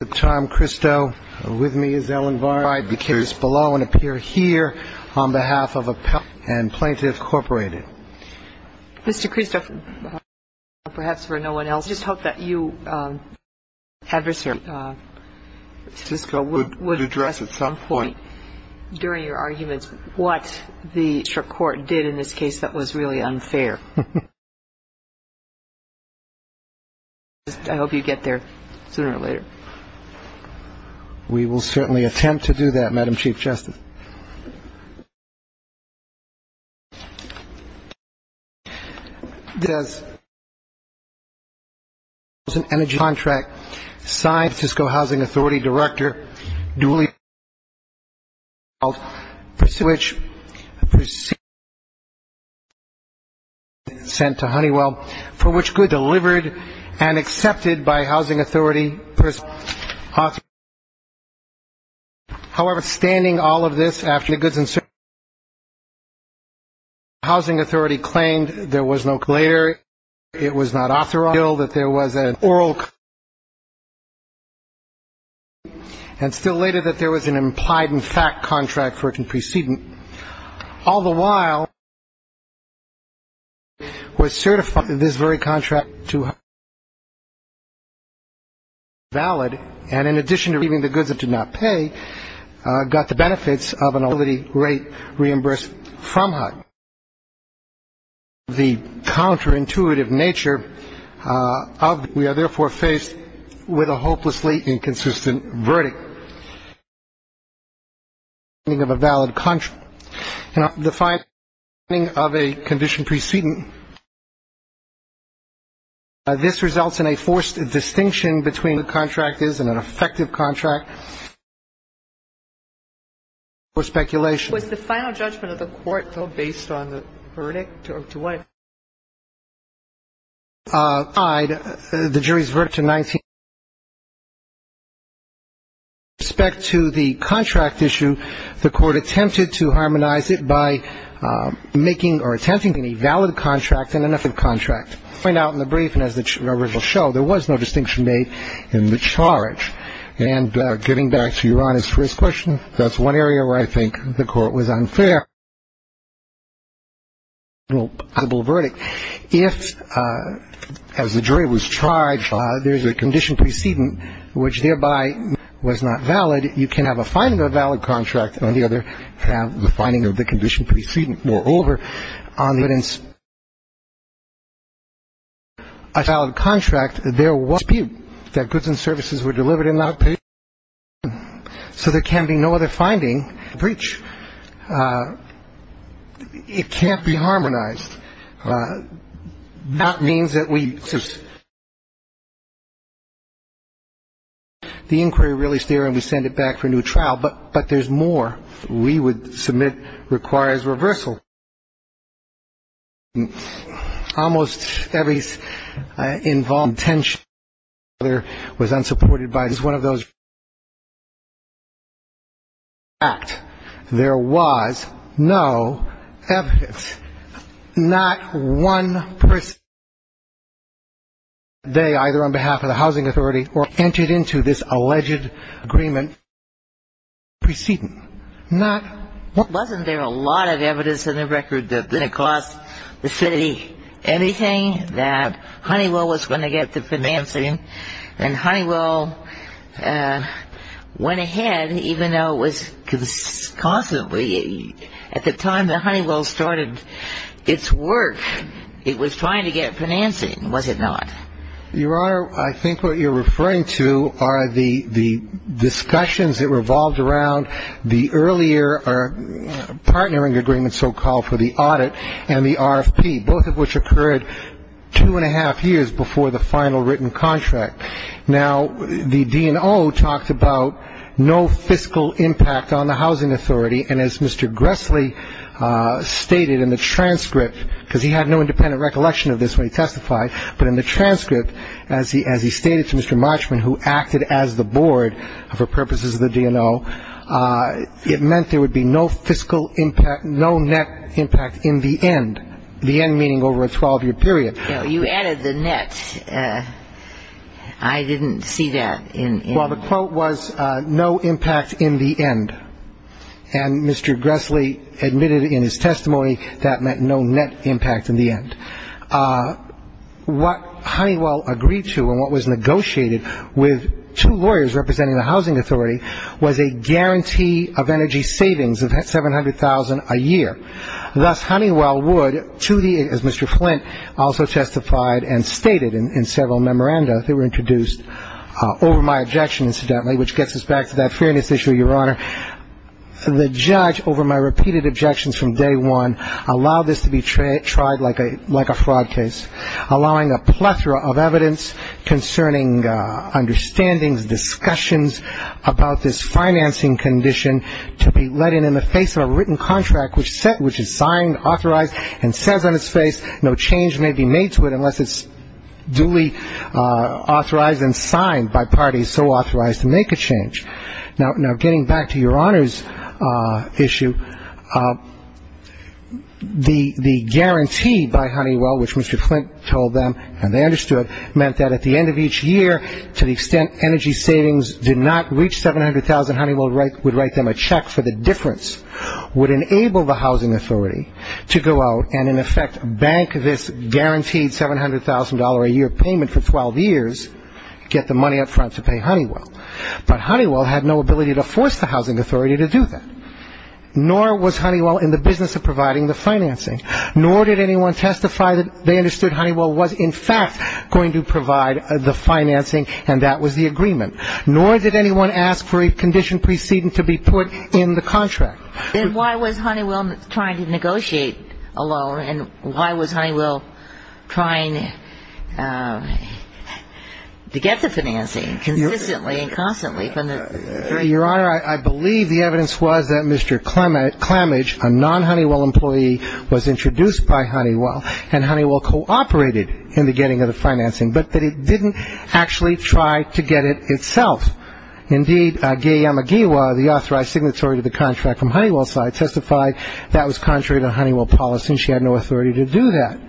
At this time, Christo, with me is Ellen Varn. I declare this below and appear here on behalf of Appellate and Plaintiff Corporated. Mr. Christo, perhaps for no one else, I just hope that you and your adversary, Francisco, would address at some point during your arguments what the district court did in this case that was really unfair. I hope you get there sooner or later. We will certainly attempt to do that, Madam Chief Justice. Thank you, Mr. Chairman. The Housing Authority claimed there was no claim. It was not authorized that there was an oral complaint. And still later that there was an implied and fact contract for it to proceed. All the while, the district court was certified in this very contract to be valid, and in addition to receiving the goods it did not pay, got the benefits of an ability rate reimbursed from HUD. The counterintuitive nature of the case is that we are therefore faced with a hopelessly inconsistent verdict. We are not able to determine the meaning of a valid contract. We are not able to define the meaning of a condition precedent. This results in a forced distinction between what a contract is and an effective contract for speculation. Was the final judgment of the court, though, based on the verdict? To what extent was it tied, the jury's verdict, to 19? With respect to the contract issue, the court attempted to harmonize it by making or attempting a valid contract and an effective contract. We find out in the brief, and as the original show, there was no distinction made in the charge. And getting back to your honest first question, that's one area where I think the court was unfair. If, as the jury was charged, there's a condition precedent which thereby was not valid, you can have a finding of a valid contract and on the other have the finding of the condition precedent. Moreover, on the evidence of a valid contract, there was a dispute that goods and services were delivered and not paid. So there can be no other finding of breach. It can't be harmonized. That means that we, the inquiry released there and we send it back for a new trial, but there's more. We would submit requires reversal. Almost every involuntary tension was unsupported by this. One of those is that there was no evidence. Not one person on that day either on behalf of the housing authority or entered into this alleged agreement precedent. Wasn't there a lot of evidence in the record that it cost the city anything, that Honeywell was going to get the financing and Honeywell went ahead, even though it was constantly at the time that Honeywell started its work, it was trying to get financing, was it not? Your Honor, I think what you're referring to are the discussions that revolved around the earlier partnering agreement so-called for the audit and the RFP, both of which occurred two and a half years before the final written contract. Now, the DNO talked about no fiscal impact on the housing authority, and as Mr. Gressley stated in the transcript, because he had no independent recollection of this when he testified, but in the transcript, as he stated to Mr. Marchman, who acted as the board for purposes of the DNO, it meant there would be no fiscal impact, no net impact in the end, the end meaning over a 12-year period. No, you added the net. I didn't see that. Well, the quote was no impact in the end, and Mr. Gressley admitted in his testimony that meant no net impact in the end. What Honeywell agreed to and what was negotiated with two lawyers representing the housing authority was a guarantee of energy savings of $700,000 a year. Thus, Honeywell would, to the end, as Mr. Flint also testified and stated in several memoranda that were introduced over my objection, incidentally, which gets us back to that fairness issue, Your Honor, the judge over my repeated objections from day one allowed this to be tried like a fraud case, allowing a plethora of evidence concerning understandings, discussions about this financing condition to be let in in the face of a written contract which is signed, authorized, and says on its face no change may be made to it unless it's duly authorized and signed by parties so authorized to make a change. Now, getting back to Your Honor's issue, the guarantee by Honeywell, which Mr. Flint told them, and they understood, meant that at the end of each year, to the extent energy savings did not reach $700,000, Honeywell would write them a check for the difference, would enable the housing authority to go out and, in effect, bank this guaranteed $700,000 a year payment for 12 years, get the money up front to pay Honeywell. But Honeywell had no ability to force the housing authority to do that, nor was Honeywell in the business of providing the financing, nor did anyone testify that they understood Honeywell was, in fact, going to provide the financing, and that was the agreement, nor did anyone ask for a condition preceding to be put in the contract. Then why was Honeywell trying to negotiate a loan, and why was Honeywell trying to get the financing consistently and constantly? Your Honor, I believe the evidence was that Mr. Klamage, a non-Honeywell employee, was introduced by Honeywell, and Honeywell cooperated in the getting of the financing, but that it didn't actually try to get it itself. Indeed, Gay Yamagiwa, the authorized signatory to the contract from Honeywell's side, testified that was contrary to Honeywell policy, and she had no authority to do that.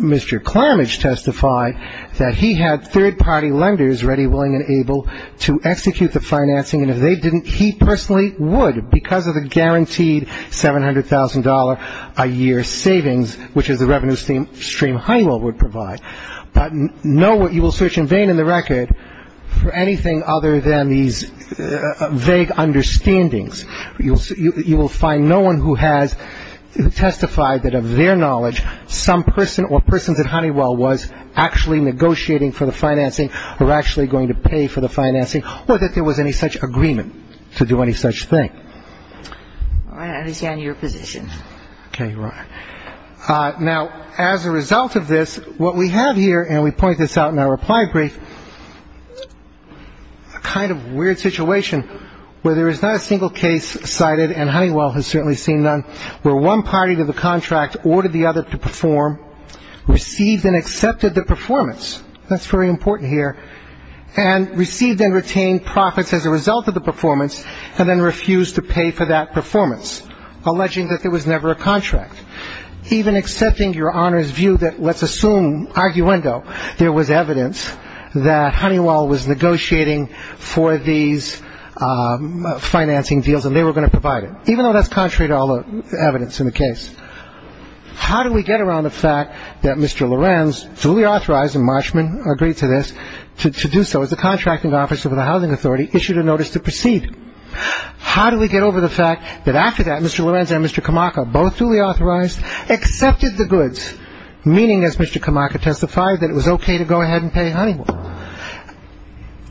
Mr. Klamage testified that he had third-party lenders ready, willing, and able to execute the financing, and if they didn't, he personally would, because of the guaranteed $700,000 a year savings, which is the revenue stream Honeywell would provide. But know what you will search in vain in the record for anything other than these vague understandings. You will find no one who has testified that, of their knowledge, some person or persons at Honeywell was actually negotiating for the financing or actually going to pay for the financing or that there was any such agreement to do any such thing. All right. I understand your position. Okay. Your Honor. Now, as a result of this, what we have here, and we point this out in our reply brief, a kind of weird situation where there is not a single case cited, and Honeywell has certainly seen none, where one party to the contract ordered the other to perform, received and accepted the performance. That's very important here. And received and retained profits as a result of the performance, and then refused to pay for that performance, alleging that there was never a contract. Even accepting Your Honor's view that, let's assume, arguendo, there was evidence that Honeywell was negotiating for these financing deals and they were going to provide it, even though that's contrary to all the evidence in the case. How do we get around the fact that Mr. Lorenz, fully authorized, and Marshman agreed to this, to do so as a contracting officer for the Housing Authority, issued a notice to proceed? How do we get over the fact that after that, Mr. Lorenz and Mr. Kamaka, both duly authorized, accepted the goods, meaning, as Mr. Kamaka testified, that it was okay to go ahead and pay Honeywell?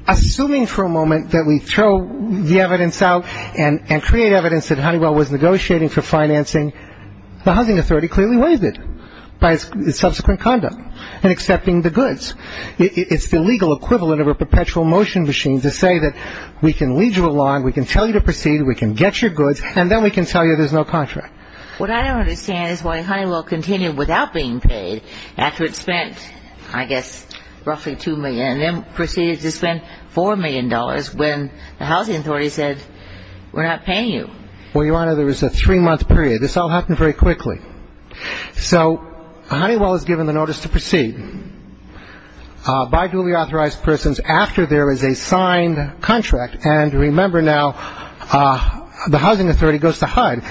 Assuming for a moment that we throw the evidence out and create evidence that Honeywell was negotiating for financing, the Housing Authority clearly waived it by its subsequent conduct in accepting the goods. It's the legal equivalent of a perpetual motion machine to say that we can lead you along, we can tell you to proceed, we can get your goods, and then we can tell you there's no contract. What I don't understand is why Honeywell continued without being paid after it spent, I guess, roughly $2 million, and then proceeded to spend $4 million when the Housing Authority said, we're not paying you. Well, Your Honor, there was a three-month period. This all happened very quickly. So Honeywell is given the notice to proceed by duly authorized persons after there is a signed contract. And remember now, the Housing Authority goes to HUD.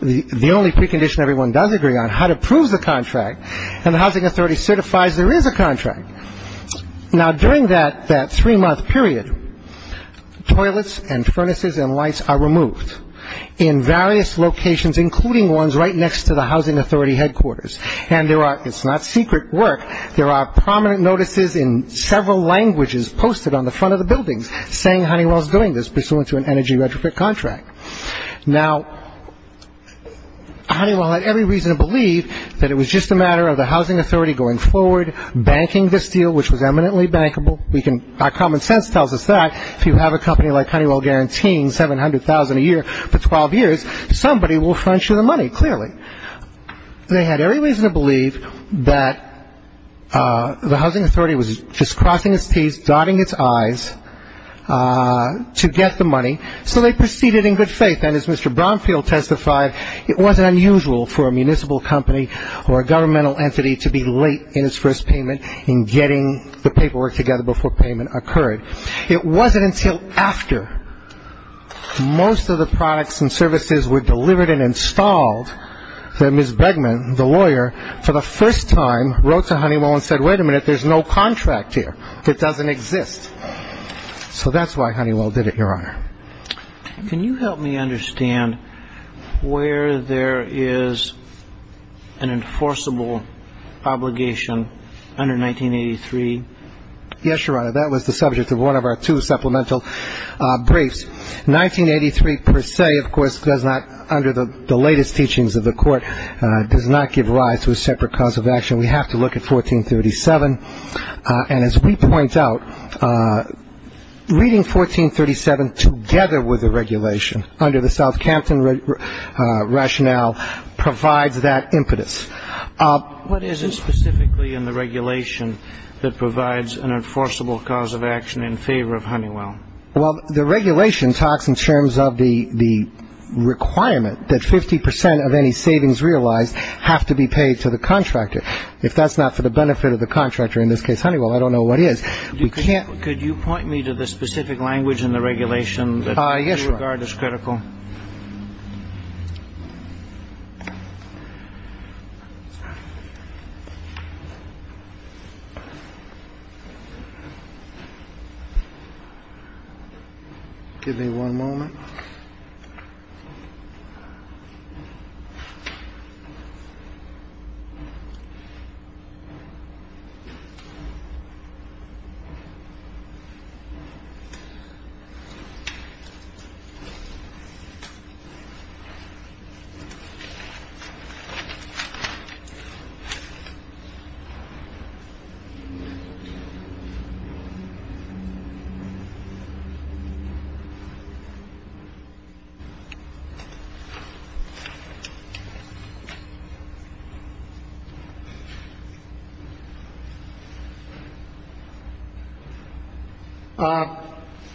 The only precondition everyone does agree on, HUD approves the contract, and the Housing Authority certifies there is a contract. Now, during that three-month period, toilets and furnaces and lights are removed in various locations, including ones right next to the Housing Authority headquarters. And it's not secret work. There are prominent notices in several languages posted on the front of the buildings saying Honeywell is doing this, pursuant to an energy retrofit contract. Now, Honeywell had every reason to believe that it was just a matter of the Housing Authority going forward, banking this deal, which was eminently bankable. Our common sense tells us that if you have a company like Honeywell guaranteeing $700,000 a year for 12 years, somebody will fund you the money, clearly. They had every reason to believe that the Housing Authority was just crossing its T's, dotting its I's to get the money. So they proceeded in good faith. And as Mr. Bromfield testified, it wasn't unusual for a municipal company or a governmental entity to be late in its first payment in getting the paperwork together before payment occurred. It wasn't until after most of the products and services were delivered and installed that Ms. Begman, the lawyer, for the first time wrote to Honeywell and said, wait a minute, there's no contract here. It doesn't exist. So that's why Honeywell did it, Your Honor. Can you help me understand where there is an enforceable obligation under 1983? Yes, Your Honor. That was the subject of one of our two supplemental briefs. 1983 per se, of course, does not, under the latest teachings of the Court, does not give rise to a separate cause of action. We have to look at 1437. And as we point out, reading 1437 together with the regulation under the Southampton rationale provides that impetus. What is it specifically in the regulation that provides an enforceable cause of action in favor of Honeywell? Well, the regulation talks in terms of the requirement that 50 percent of any savings realized have to be paid to the contractor. If that's not for the benefit of the contractor, in this case Honeywell, I don't know what is. We can't. Could you point me to the specific language in the regulation that you regard as critical? Yes, Your Honor. Just a moment.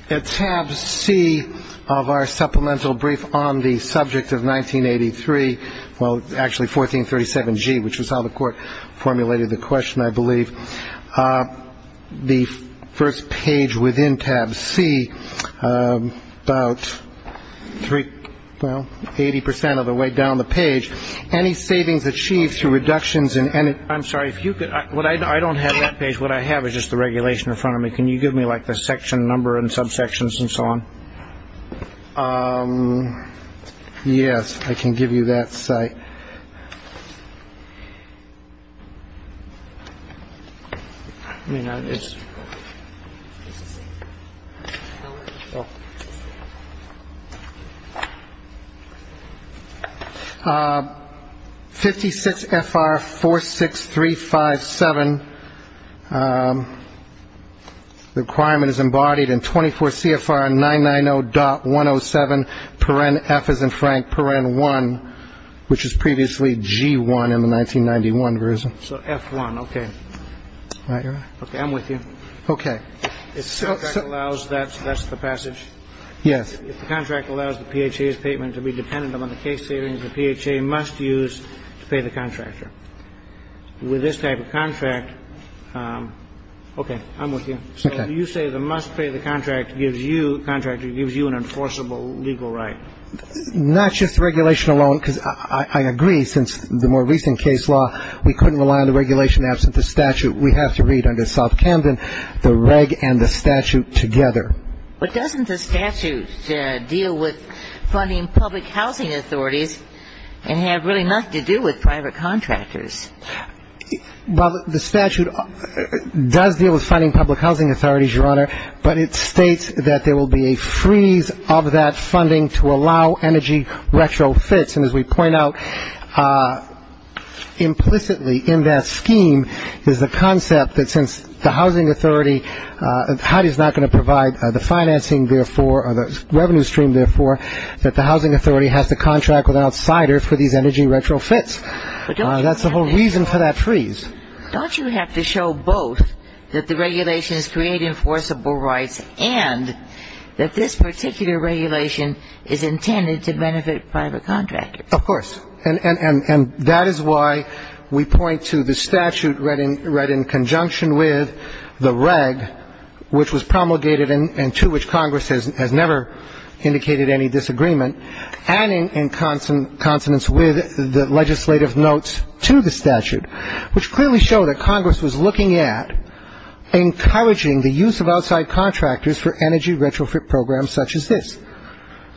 At tab C of our supplemental brief on the subject of 1983, well, actually 1437G, which is how the Court formulated the question, I believe, the first page within tab C, about three, well, 80 percent of the way down the page. Any savings achieved through reductions in any. I'm sorry if you could. Well, I don't have that page. What I have is just the regulation in front of me. Can you give me like the section number and subsections and so on? Yes, I can give you that site. I mean, it's. Fifty six F.R. four, six, three, five, seven. The requirement is embodied in 24 CFR 990.107, paren F as in Frank, paren one, which is previously G1 in the 1991 version. So F1. Okay. All right. Okay. I'm with you. Okay. It allows that. That's the passage. Yes. If the contract allows the PHA's payment to be dependent on the case savings, the PHA must use to pay the contractor. With this type of contract. Okay. I'm with you. Okay. So you say the must pay the contractor gives you an enforceable legal right. Not just the regulation alone, because I agree, since the more recent case law, we couldn't rely on the regulation absent the statute. We have to read under South Camden the reg and the statute together. But doesn't the statute deal with funding public housing authorities and have really nothing to do with private contractors? Well, the statute does deal with funding public housing authorities, Your Honor, but it states that there will be a freeze of that funding to allow energy retrofits. And as we point out, implicitly in that scheme is the concept that since the housing authority, HUD is not going to provide the financing, therefore, or the revenue stream, therefore, that the housing authority has to contract with an outsider for these energy retrofits. That's the whole reason for that freeze. Don't you have to show both that the regulations create enforceable rights and that this particular regulation is intended to benefit private contractors? Of course. And that is why we point to the statute read in conjunction with the reg, which was promulgated and to which Congress has never indicated any disagreement, and in consonance with the legislative notes to the statute, which clearly show that Congress was looking at encouraging the use of outside contractors for energy retrofit programs such as this,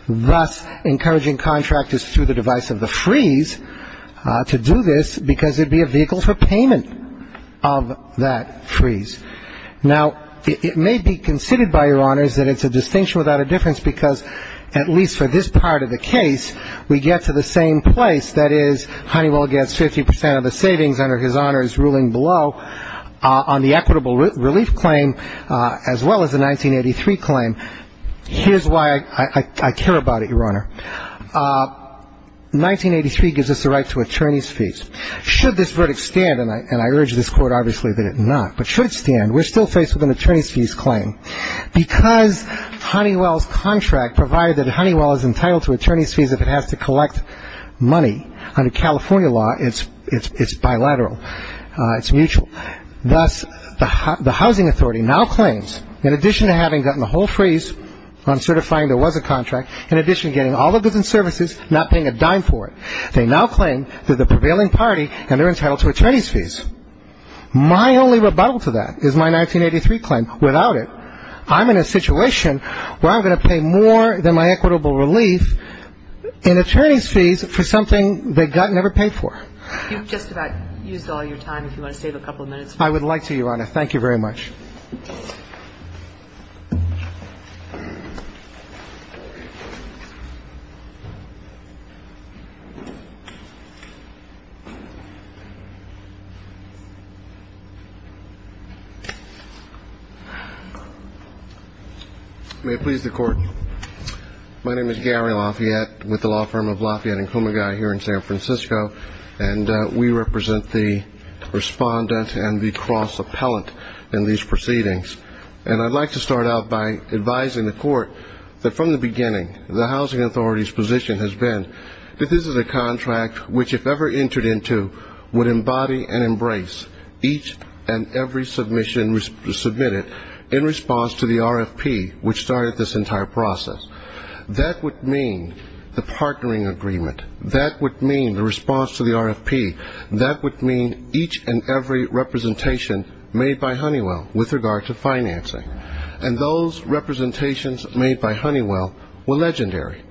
thus encouraging contractors through the device of the freeze to do this because it would be a vehicle for payment of that freeze. Now, it may be considered by Your Honors that it's a distinction without a difference because at least for this part of the case, we get to the same place. That is, Honeywell gets 50 percent of the savings under his Honor's ruling below on the equitable relief claim as well as the 1983 claim. Here's why I care about it, Your Honor. 1983 gives us the right to attorney's fees. Should this verdict stand, and I urge this Court obviously that it not, but should it stand, we're still faced with an attorney's fees claim. Because Honeywell's contract provided that Honeywell is entitled to attorney's fees if it has to collect money under California law, it's bilateral, it's mutual. Thus, the housing authority now claims, in addition to having gotten the whole freeze on certifying there was a contract, in addition to getting all the goods and services, not paying a dime for it, they now claim that the prevailing party and they're entitled to attorney's fees. My only rebuttal to that is my 1983 claim. Without it, I'm in a situation where I'm going to pay more than my equitable relief in attorney's fees for something they got never paid for. You've just about used all your time. If you want to save a couple of minutes. I would like to, Your Honor. Thank you very much. Thank you. May it please the Court. My name is Gary Lafayette with the law firm of Lafayette & Kumagai here in San Francisco, and we represent the respondent and the cross-appellant in these proceedings. And I'd like to start out by advising the Court that from the beginning, the housing authority's position has been that this is a contract which, if ever entered into, would embody and embrace each and every submission submitted in response to the RFP, which started this entire process. That would mean the partnering agreement. That would mean the response to the RFP. That would mean each and every representation made by Honeywell with regard to financing. And those representations made by Honeywell were legendary.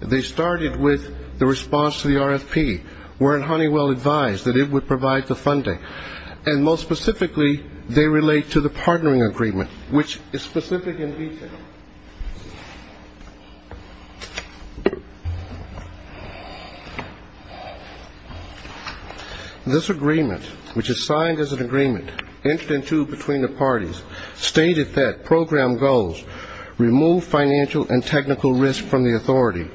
They started with the response to the RFP, where Honeywell advised that it would provide the funding. And most specifically, they relate to the partnering agreement, which is specific in detail. This agreement, which is signed as an agreement, entered into between the parties, stated that program goals remove financial and technical risk from the authority,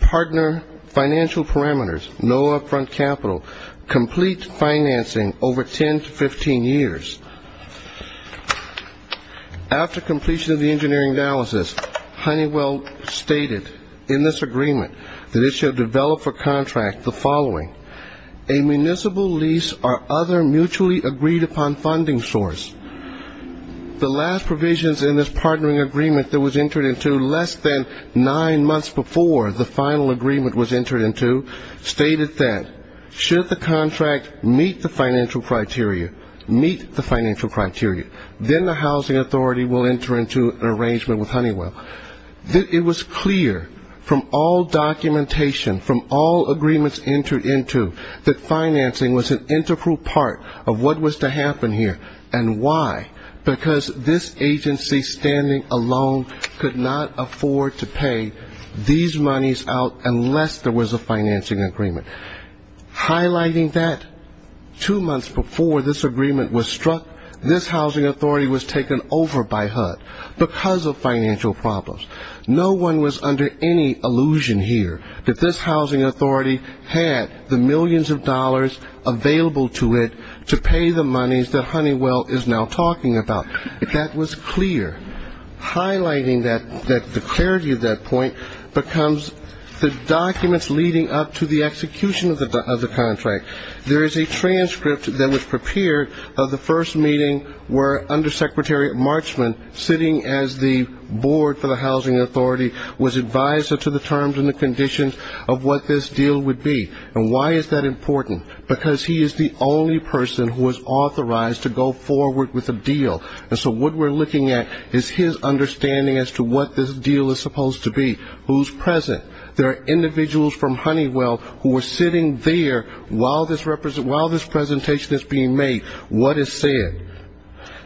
partner financial parameters, no upfront capital, complete financing over 10 to 15 years. After completion of the engineering analysis, Honeywell stated in this agreement that it should develop for contract the following, a municipal lease or other mutually agreed upon funding source. The last provisions in this partnering agreement that was entered into less than nine months before the final agreement was entered into stated that should the contract meet the financial criteria, meet the financial criteria, then the housing authority will enter into an arrangement with Honeywell. It was clear from all documentation, from all agreements entered into, that financing was an integral part of what was to happen here. And why? Because this agency standing alone could not afford to pay these monies out unless there was a financing agreement. Highlighting that, two months before this agreement was struck, this housing authority was taken over by HUD because of financial problems. No one was under any illusion here that this housing authority had the millions of dollars available to it to pay the monies that Honeywell is now talking about. That was clear. Highlighting the clarity of that point becomes the documents leading up to the execution of the contract. There is a transcript that was prepared of the first meeting where Undersecretary Marchman, sitting as the board for the housing authority, was advised as to the terms and the conditions of what this deal would be. And why is that important? Because he is the only person who is authorized to go forward with a deal. And so what we're looking at is his understanding as to what this deal is supposed to be, who's present. There are individuals from Honeywell who are sitting there while this presentation is being made, what is said.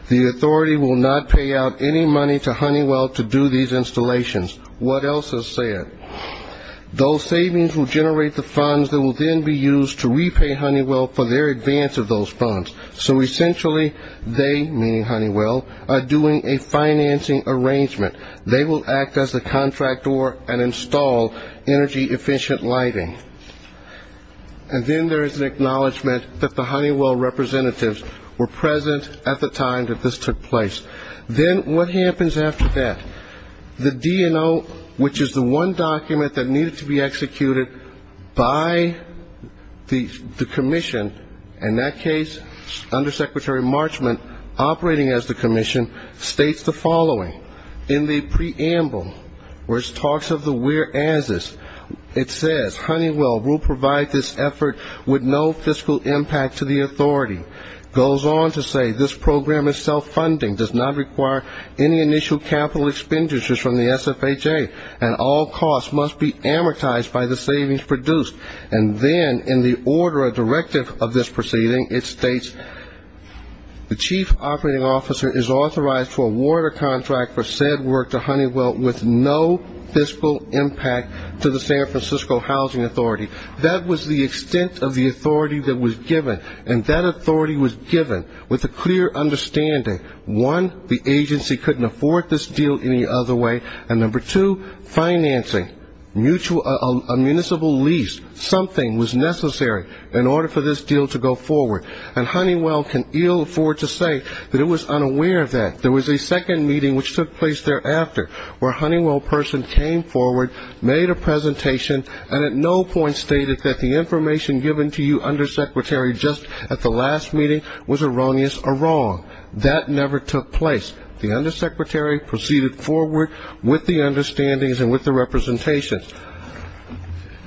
The authority will not pay out any money to Honeywell to do these installations. What else is said? Those savings will generate the funds that will then be used to repay Honeywell for their advance of those funds. So essentially, they, meaning Honeywell, are doing a financing arrangement. They will act as the contractor and install energy-efficient lighting. And then there is an acknowledgment that the Honeywell representatives were present at the time that this took place. Then what happens after that? The DNO, which is the one document that needed to be executed by the commission, in that case Undersecretary Marchman operating as the commission, states the following. In the preamble, which talks of the whereases, it says, Honeywell will provide this effort with no fiscal impact to the authority. It goes on to say this program is self-funding, does not require any initial capital expenditures from the SFHA, and all costs must be amortized by the savings produced. And then in the order of directive of this proceeding, it states, the chief operating officer is authorized to award a contract for said work to Honeywell with no fiscal impact to the San Francisco Housing Authority. That was the extent of the authority that was given. And that authority was given with a clear understanding. One, the agency couldn't afford this deal any other way. And number two, financing, a municipal lease, something was necessary in order for this deal to go forward. And Honeywell can ill afford to say that it was unaware of that. There was a second meeting which took place thereafter, where a Honeywell person came forward, made a presentation, and at no point stated that the information given to you, Undersecretary, just at the last meeting was erroneous or wrong. That never took place. The Undersecretary proceeded forward with the understandings and with the representations.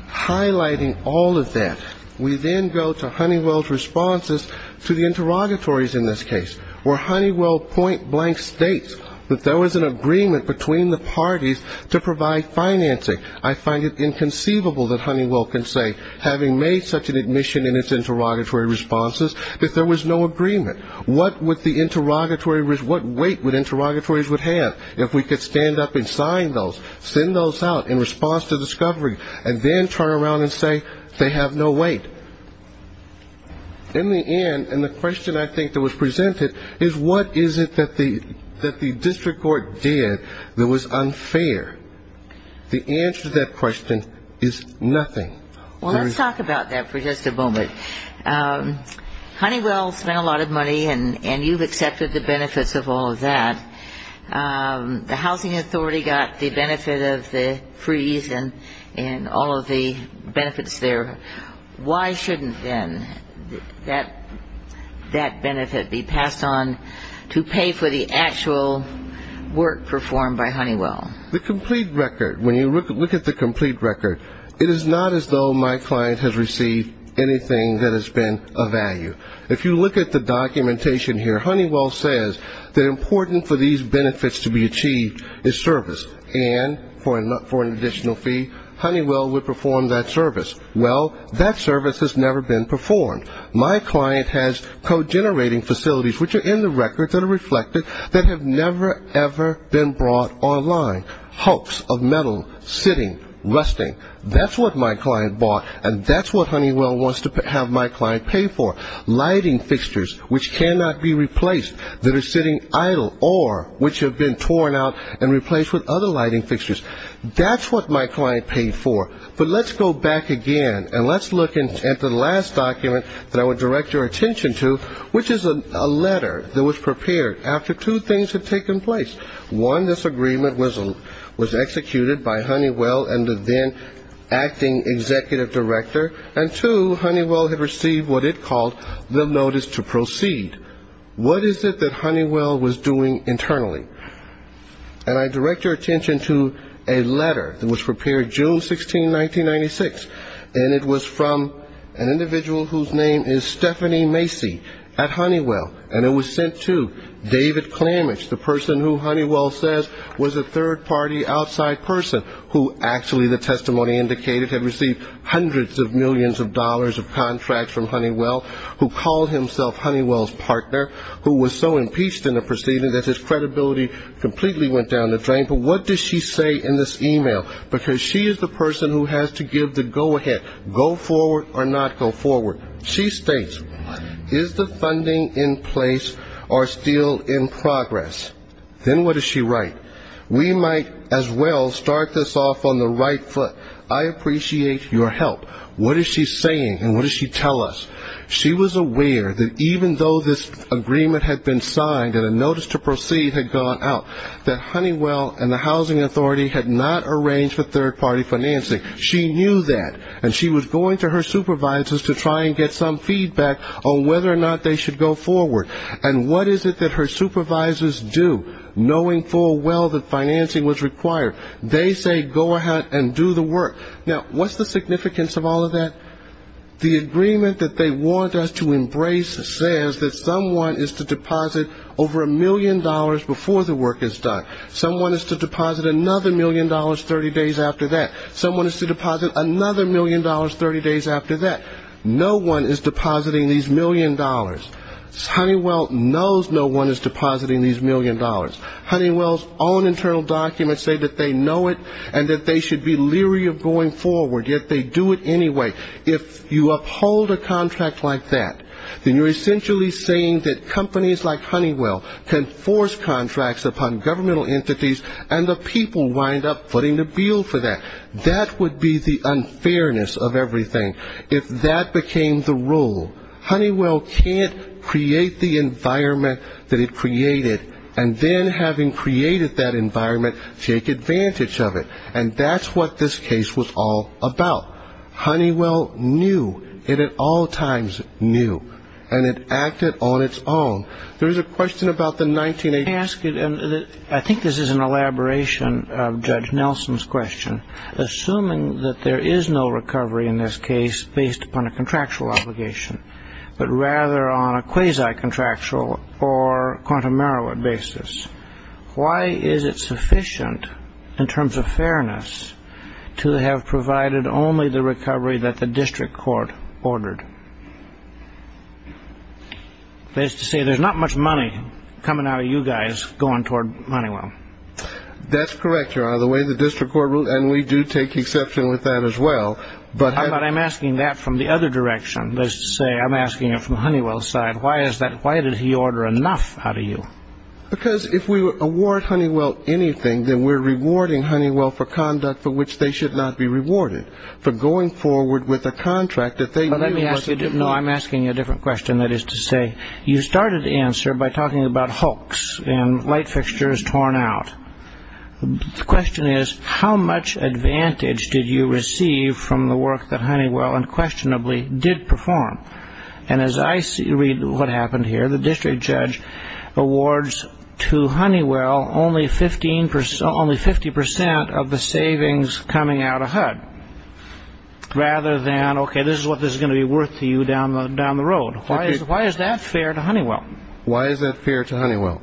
Highlighting all of that, we then go to Honeywell's responses to the interrogatories in this case, where Honeywell point blank states that there was an agreement between the parties to provide financing. I find it inconceivable that Honeywell can say, having made such an admission in its interrogatory responses, that there was no agreement. What weight would interrogatories have if we could stand up and sign those, send those out in response to discovery, and then turn around and say they have no weight? In the end, and the question I think that was presented, is what is it that the district court did that was unfair? The answer to that question is nothing. Well, let's talk about that for just a moment. Honeywell spent a lot of money, and you've accepted the benefits of all of that. The Housing Authority got the benefit of the freeze and all of the benefits there. Why shouldn't then that benefit be passed on to pay for the actual work performed by Honeywell? The complete record, when you look at the complete record, it is not as though my client has received anything that has been of value. If you look at the documentation here, Honeywell says that important for these benefits to be achieved is service, and for an additional fee, Honeywell would perform that service. Well, that service has never been performed. My client has co-generating facilities, which are in the record, that are reflected, that have never, ever been brought online. Hulks of metal sitting, resting. That's what my client bought, and that's what Honeywell wants to have my client pay for. Lighting fixtures, which cannot be replaced, that are sitting idle, or which have been torn out and replaced with other lighting fixtures. That's what my client paid for. But let's go back again, and let's look at the last document that I would direct your attention to, which is a letter that was prepared after two things had taken place. One, this agreement was executed by Honeywell and the then acting executive director, and two, Honeywell had received what it called the notice to proceed. What is it that Honeywell was doing internally? And I direct your attention to a letter that was prepared June 16, 1996, and it was from an individual whose name is Stephanie Macy at Honeywell, and it was sent to David Klamich, the person who Honeywell says was a third-party outside person, who actually the testimony indicated had received hundreds of millions of dollars of contracts from Honeywell, who called himself Honeywell's partner, who was so impeached in the proceedings that his credibility completely went down the drain. But what does she say in this email? Because she is the person who has to give the go-ahead, go forward or not go forward. She states, is the funding in place or still in progress? Then what does she write? We might as well start this off on the right foot. I appreciate your help. What is she saying and what does she tell us? She was aware that even though this agreement had been signed and a notice to proceed had gone out, that Honeywell and the housing authority had not arranged for third-party financing. She knew that, and she was going to her supervisors to try and get some feedback on whether or not they should go forward. And what is it that her supervisors do, knowing full well that financing was required? They say, go ahead and do the work. Now, what's the significance of all of that? The agreement that they want us to embrace says that someone is to deposit over a million dollars before the work is done. Someone is to deposit another million dollars 30 days after that. Someone is to deposit another million dollars 30 days after that. No one is depositing these million dollars. Honeywell knows no one is depositing these million dollars. Honeywell's own internal documents say that they know it and that they should be leery of going forward, yet they do it anyway. If you uphold a contract like that, then you're essentially saying that companies like Honeywell can force contracts upon governmental entities, and the people wind up footing the bill for that. That would be the unfairness of everything. If that became the rule, Honeywell can't create the environment that it created, and then having created that environment, take advantage of it. And that's what this case was all about. Honeywell knew. It at all times knew. And it acted on its own. There's a question about the 1980s. I think this is an elaboration of Judge Nelson's question. Assuming that there is no recovery in this case based upon a contractual obligation, but rather on a quasi-contractual or quantum merit basis, why is it sufficient in terms of fairness to have provided only the recovery that the district court ordered? That is to say, there's not much money coming out of you guys going toward Honeywell. That's correct, Your Honor. The way the district court ruled, and we do take exception with that as well. But I'm asking that from the other direction. That is to say, I'm asking it from Honeywell's side. Why is that? Why did he order enough out of you? Because if we award Honeywell anything, then we're rewarding Honeywell for conduct for which they should not be rewarded, for going forward with a contract that they didn't work with. No, I'm asking you a different question. That is to say, you started the answer by talking about hoax and light fixtures torn out. The question is, how much advantage did you receive from the work that Honeywell unquestionably did perform? And as I read what happened here, the district judge awards to Honeywell only 50% of the savings coming out of HUD, rather than, okay, this is what this is going to be worth to you down the road. Why is that fair to Honeywell? Why is that fair to Honeywell?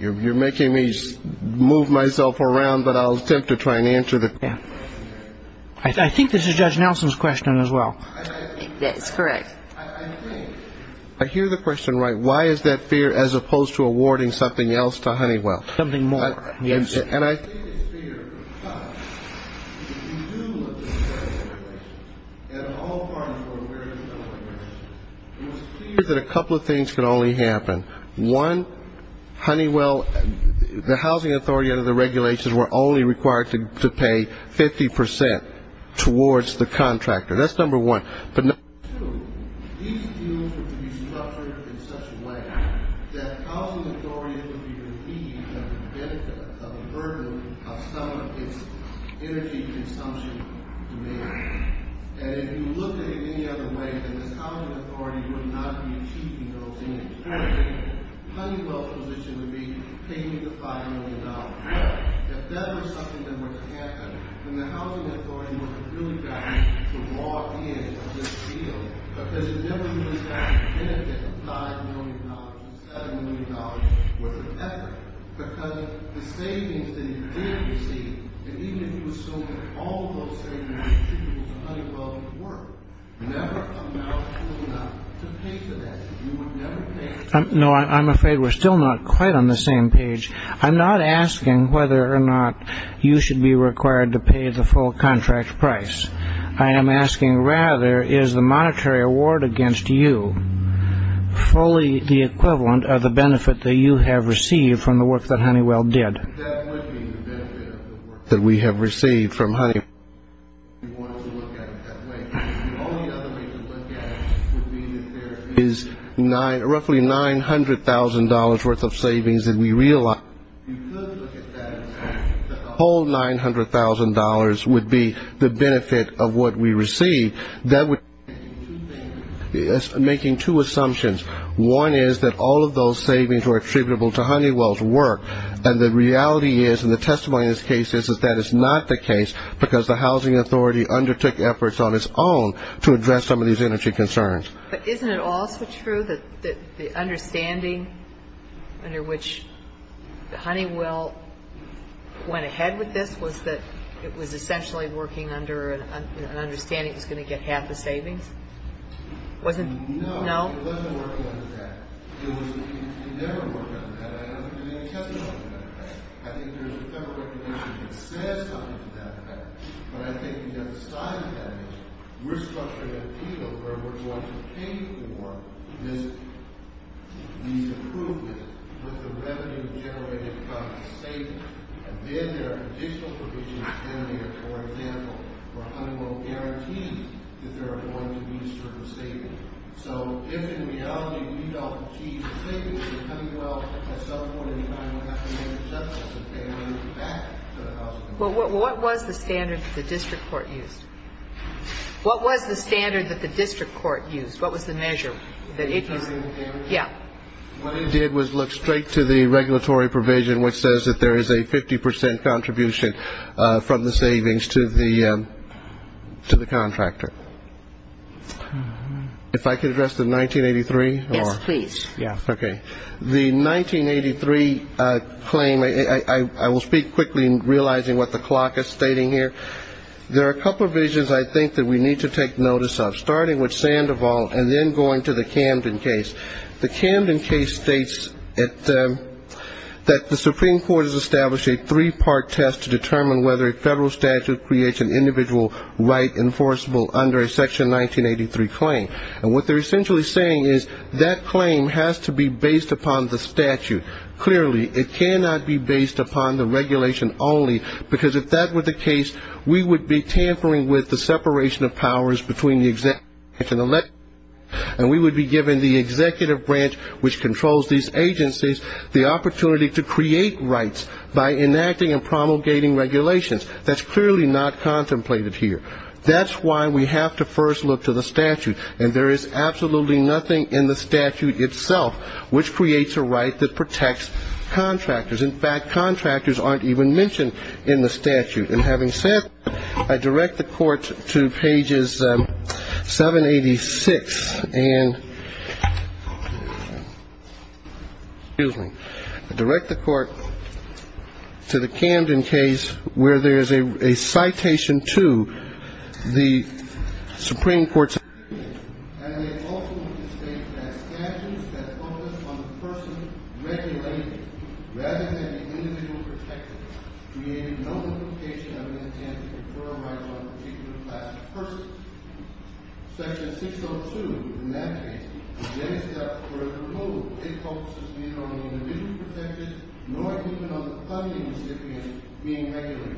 You're making me move myself around, but I'll attempt to try and answer the question. I think this is Judge Nelson's question as well. That's correct. I think, I hear the question right. Why is that fair as opposed to awarding something else to Honeywell? Something more. Yes. And I think it's fair because if you do look at the regulations, and all parties were aware of the regulations, it was clear that a couple of things could only happen. One, Honeywell, the housing authority under the regulations were only required to pay 50% towards the contractor. That's number one. But number two, these deals were to be structured in such a way that housing authorities would be relieved of the benefit, of the burden of some of its energy consumption demand. And if you look at it any other way, then this housing authority would not be keeping those energies. Honeywell's position would be, pay me the $5 million. If that was something that was to happen, then the housing authority would have really got to walk in on this deal. Because if there was a benefit of $5 million, $7 million, what's the benefit? Because the savings that you did receive, and even if you were still getting all of those savings, you should be able to go to Honeywell to work, never amounted to enough to pay for that. You would never pay. No, I'm afraid we're still not quite on the same page. I'm not asking whether or not you should be required to pay the full contract price. I am asking, rather, is the monetary award against you fully the equivalent of the benefit that you have received from the work that Honeywell did? That would be the benefit of the work that we have received from Honeywell. We want to look at it that way. The only other thing to look at would be that there is roughly $900,000 worth of savings that we realize. If you could look at that and say that the whole $900,000 would be the benefit of what we receive, that would be making two assumptions. One is that all of those savings were attributable to Honeywell's work, and the reality is and the testimony in this case is that that is not the case because the housing authority undertook efforts on its own to address some of these energy concerns. But isn't it also true that the understanding under which Honeywell went ahead with this was that it was essentially working under an understanding it was going to get half the savings? No, it wasn't working under that. It never worked under that. I don't think there is any testimony to that fact. I think there is a federal recommendation that says something to that effect. But I think the other side of that is we are structuring a deal where we are going to pay for these improvements with the revenue generated by the savings. And then there are additional provisions down here, for example, where Honeywell guarantees that there are going to be a certain savings. So if in reality we don't achieve the savings in Honeywell, at some point in time we have to make a judgment that they are going to get back to the housing authority. Well, what was the standard that the district court used? What was the standard that the district court used? What was the measure that it used? The measurement standard? Yeah. What it did was look straight to the regulatory provision, which says that there is a 50 percent contribution from the savings to the contractor. If I could address the 1983? Yes, please. Okay. The 1983 claim, I will speak quickly, realizing what the clock is stating here. There are a couple of visions I think that we need to take notice of, starting with Sandoval and then going to the Camden case. The Camden case states that the Supreme Court has established a three-part test to determine whether a federal statute creates an individual right enforceable under a Section 1983 claim. And what they're essentially saying is that claim has to be based upon the statute. Clearly, it cannot be based upon the regulation only, because if that were the case, we would be tampering with the separation of powers between the executive and the legislature, and we would be giving the executive branch, which controls these agencies, the opportunity to create rights by enacting and promulgating regulations. That's clearly not contemplated here. That's why we have to first look to the statute, and there is absolutely nothing in the statute itself which creates a right that protects contractors. In fact, contractors aren't even mentioned in the statute. And having said that, I direct the Court to pages 786 and, excuse me, I direct the Court to the Camden case where there is a citation to the Supreme Court statute. And they also want to state that statutes that focus on the person regulating rather than the individual protected created no implication of an intent to confer rights on a particular class of persons. Section 602, in that case, against that further rule, it focuses neither on the individual protected nor even on the funding recipient being regulated.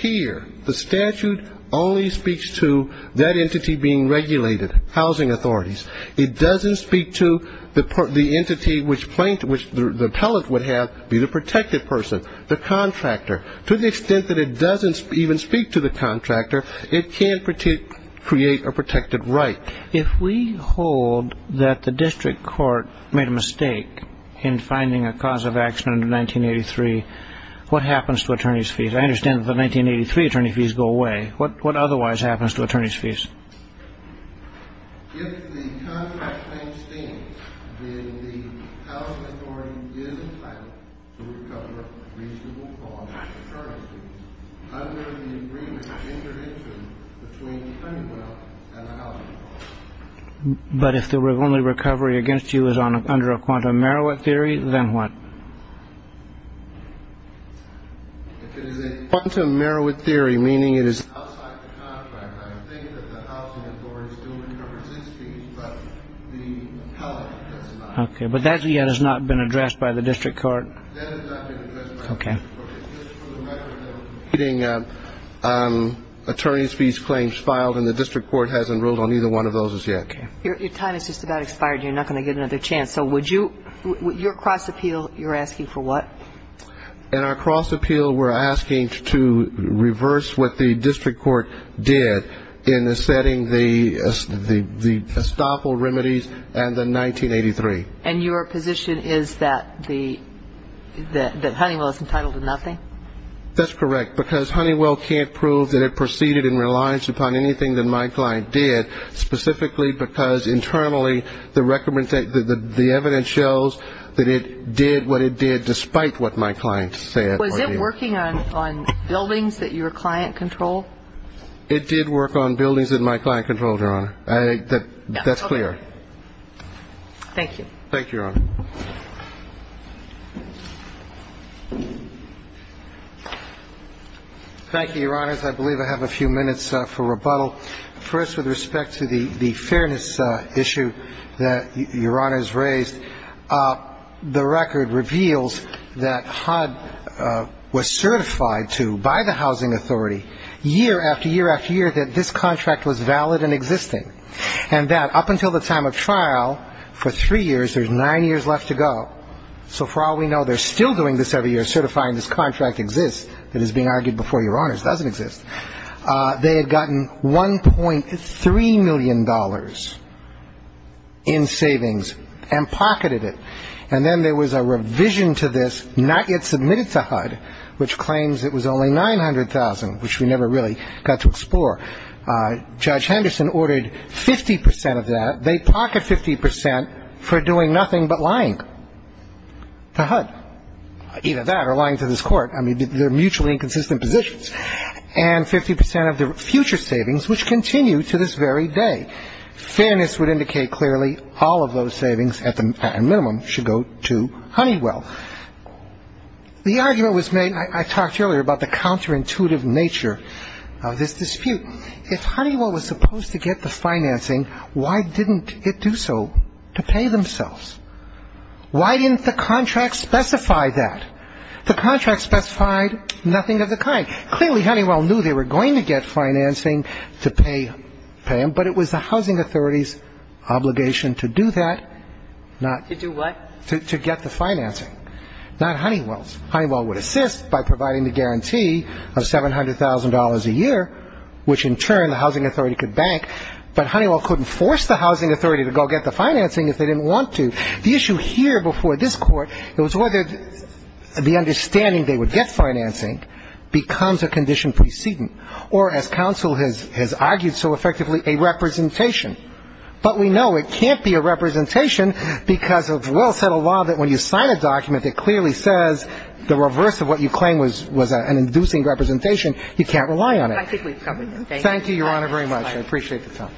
Here, the statute only speaks to that entity being regulated, housing authorities. It doesn't speak to the entity which the appellate would have be the protected person, the contractor. To the extent that it doesn't even speak to the contractor, it can't create a protected right. If we hold that the district court made a mistake in finding a cause of action under 1983, what happens to attorney's fees? I understand that the 1983 attorney fees go away. What otherwise happens to attorney's fees? If the contract claims stand, then the housing authority is entitled to recover reasonable costs of attorney's fees under the agreement interdicted between Pennywell and the housing authority. But if the only recovery against you is under a quantum Meroweth theory, then what? If it is a quantum Meroweth theory, meaning it is outside the contract, I think that the housing authority still recovers its fees, but the appellate does not. Okay. But that yet has not been addressed by the district court? That has not been addressed by the district court. It's just for the record that we're getting attorney's fees claims filed, and the district court hasn't ruled on either one of those as yet. Okay. Your time has just about expired. You're not going to get another chance. So would you ‑‑ your cross appeal, you're asking for what? In our cross appeal, we're asking to reverse what the district court did in setting the estoppel remedies and the 1983. And your position is that Honeywell is entitled to nothing? That's correct, because Honeywell can't prove that it proceeded in reliance upon anything that my client did, specifically because internally the evidence shows that it did what it did, despite what my client said. Was it working on buildings that your client controlled? It did work on buildings that my client controlled, Your Honor. That's clear. Okay. Thank you. Thank you, Your Honor. Thank you, Your Honors. I believe I have a few minutes for rebuttal. First, with respect to the fairness issue that Your Honors raised, the record reveals that HUD was certified to, by the housing authority, year after year after year that this contract was valid and existing, and that up until the time of trial, for three years, there's nine years left to go. So far we know they're still doing this every year, certifying this contract exists, that is being argued before Your Honors doesn't exist. They had gotten $1.3 million in savings and pocketed it. And then there was a revision to this, not yet submitted to HUD, which claims it was only $900,000, which we never really got to explore. Judge Henderson ordered 50 percent of that. They pocket 50 percent for doing nothing but lying to HUD. Either that or lying to this Court. I mean, they're mutually inconsistent positions. And 50 percent of the future savings, which continue to this very day. Fairness would indicate clearly all of those savings, at a minimum, should go to Honeywell. The argument was made, I talked earlier about the counterintuitive nature of this dispute. If Honeywell was supposed to get the financing, why didn't it do so to pay themselves? Why didn't the contract specify that? The contract specified nothing of the kind. Clearly, Honeywell knew they were going to get financing to pay them, but it was the housing authority's obligation to do that. To do what? To get the financing. Not Honeywell's. Honeywell would assist by providing the guarantee of $700,000 a year, which in turn the housing authority could bank. But Honeywell couldn't force the housing authority to go get the financing if they didn't want to. The issue here before this Court was whether the understanding they would get financing becomes a condition precedent or, as counsel has argued so effectively, a representation. But we know it can't be a representation because of well-settled law that when you sign a document that clearly says the reverse of what you claim was an inducing representation, you can't rely on it. Thank you, Your Honor, very much. I appreciate the time.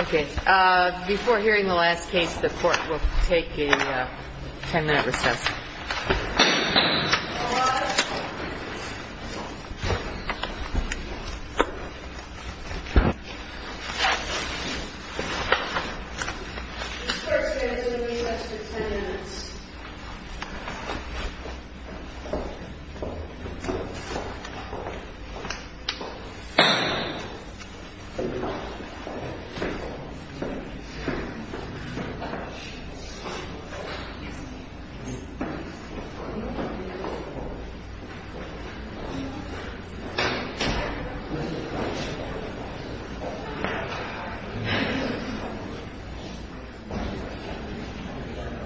Okay. Before hearing the last case, the Court will take a ten-minute recess. Thank you.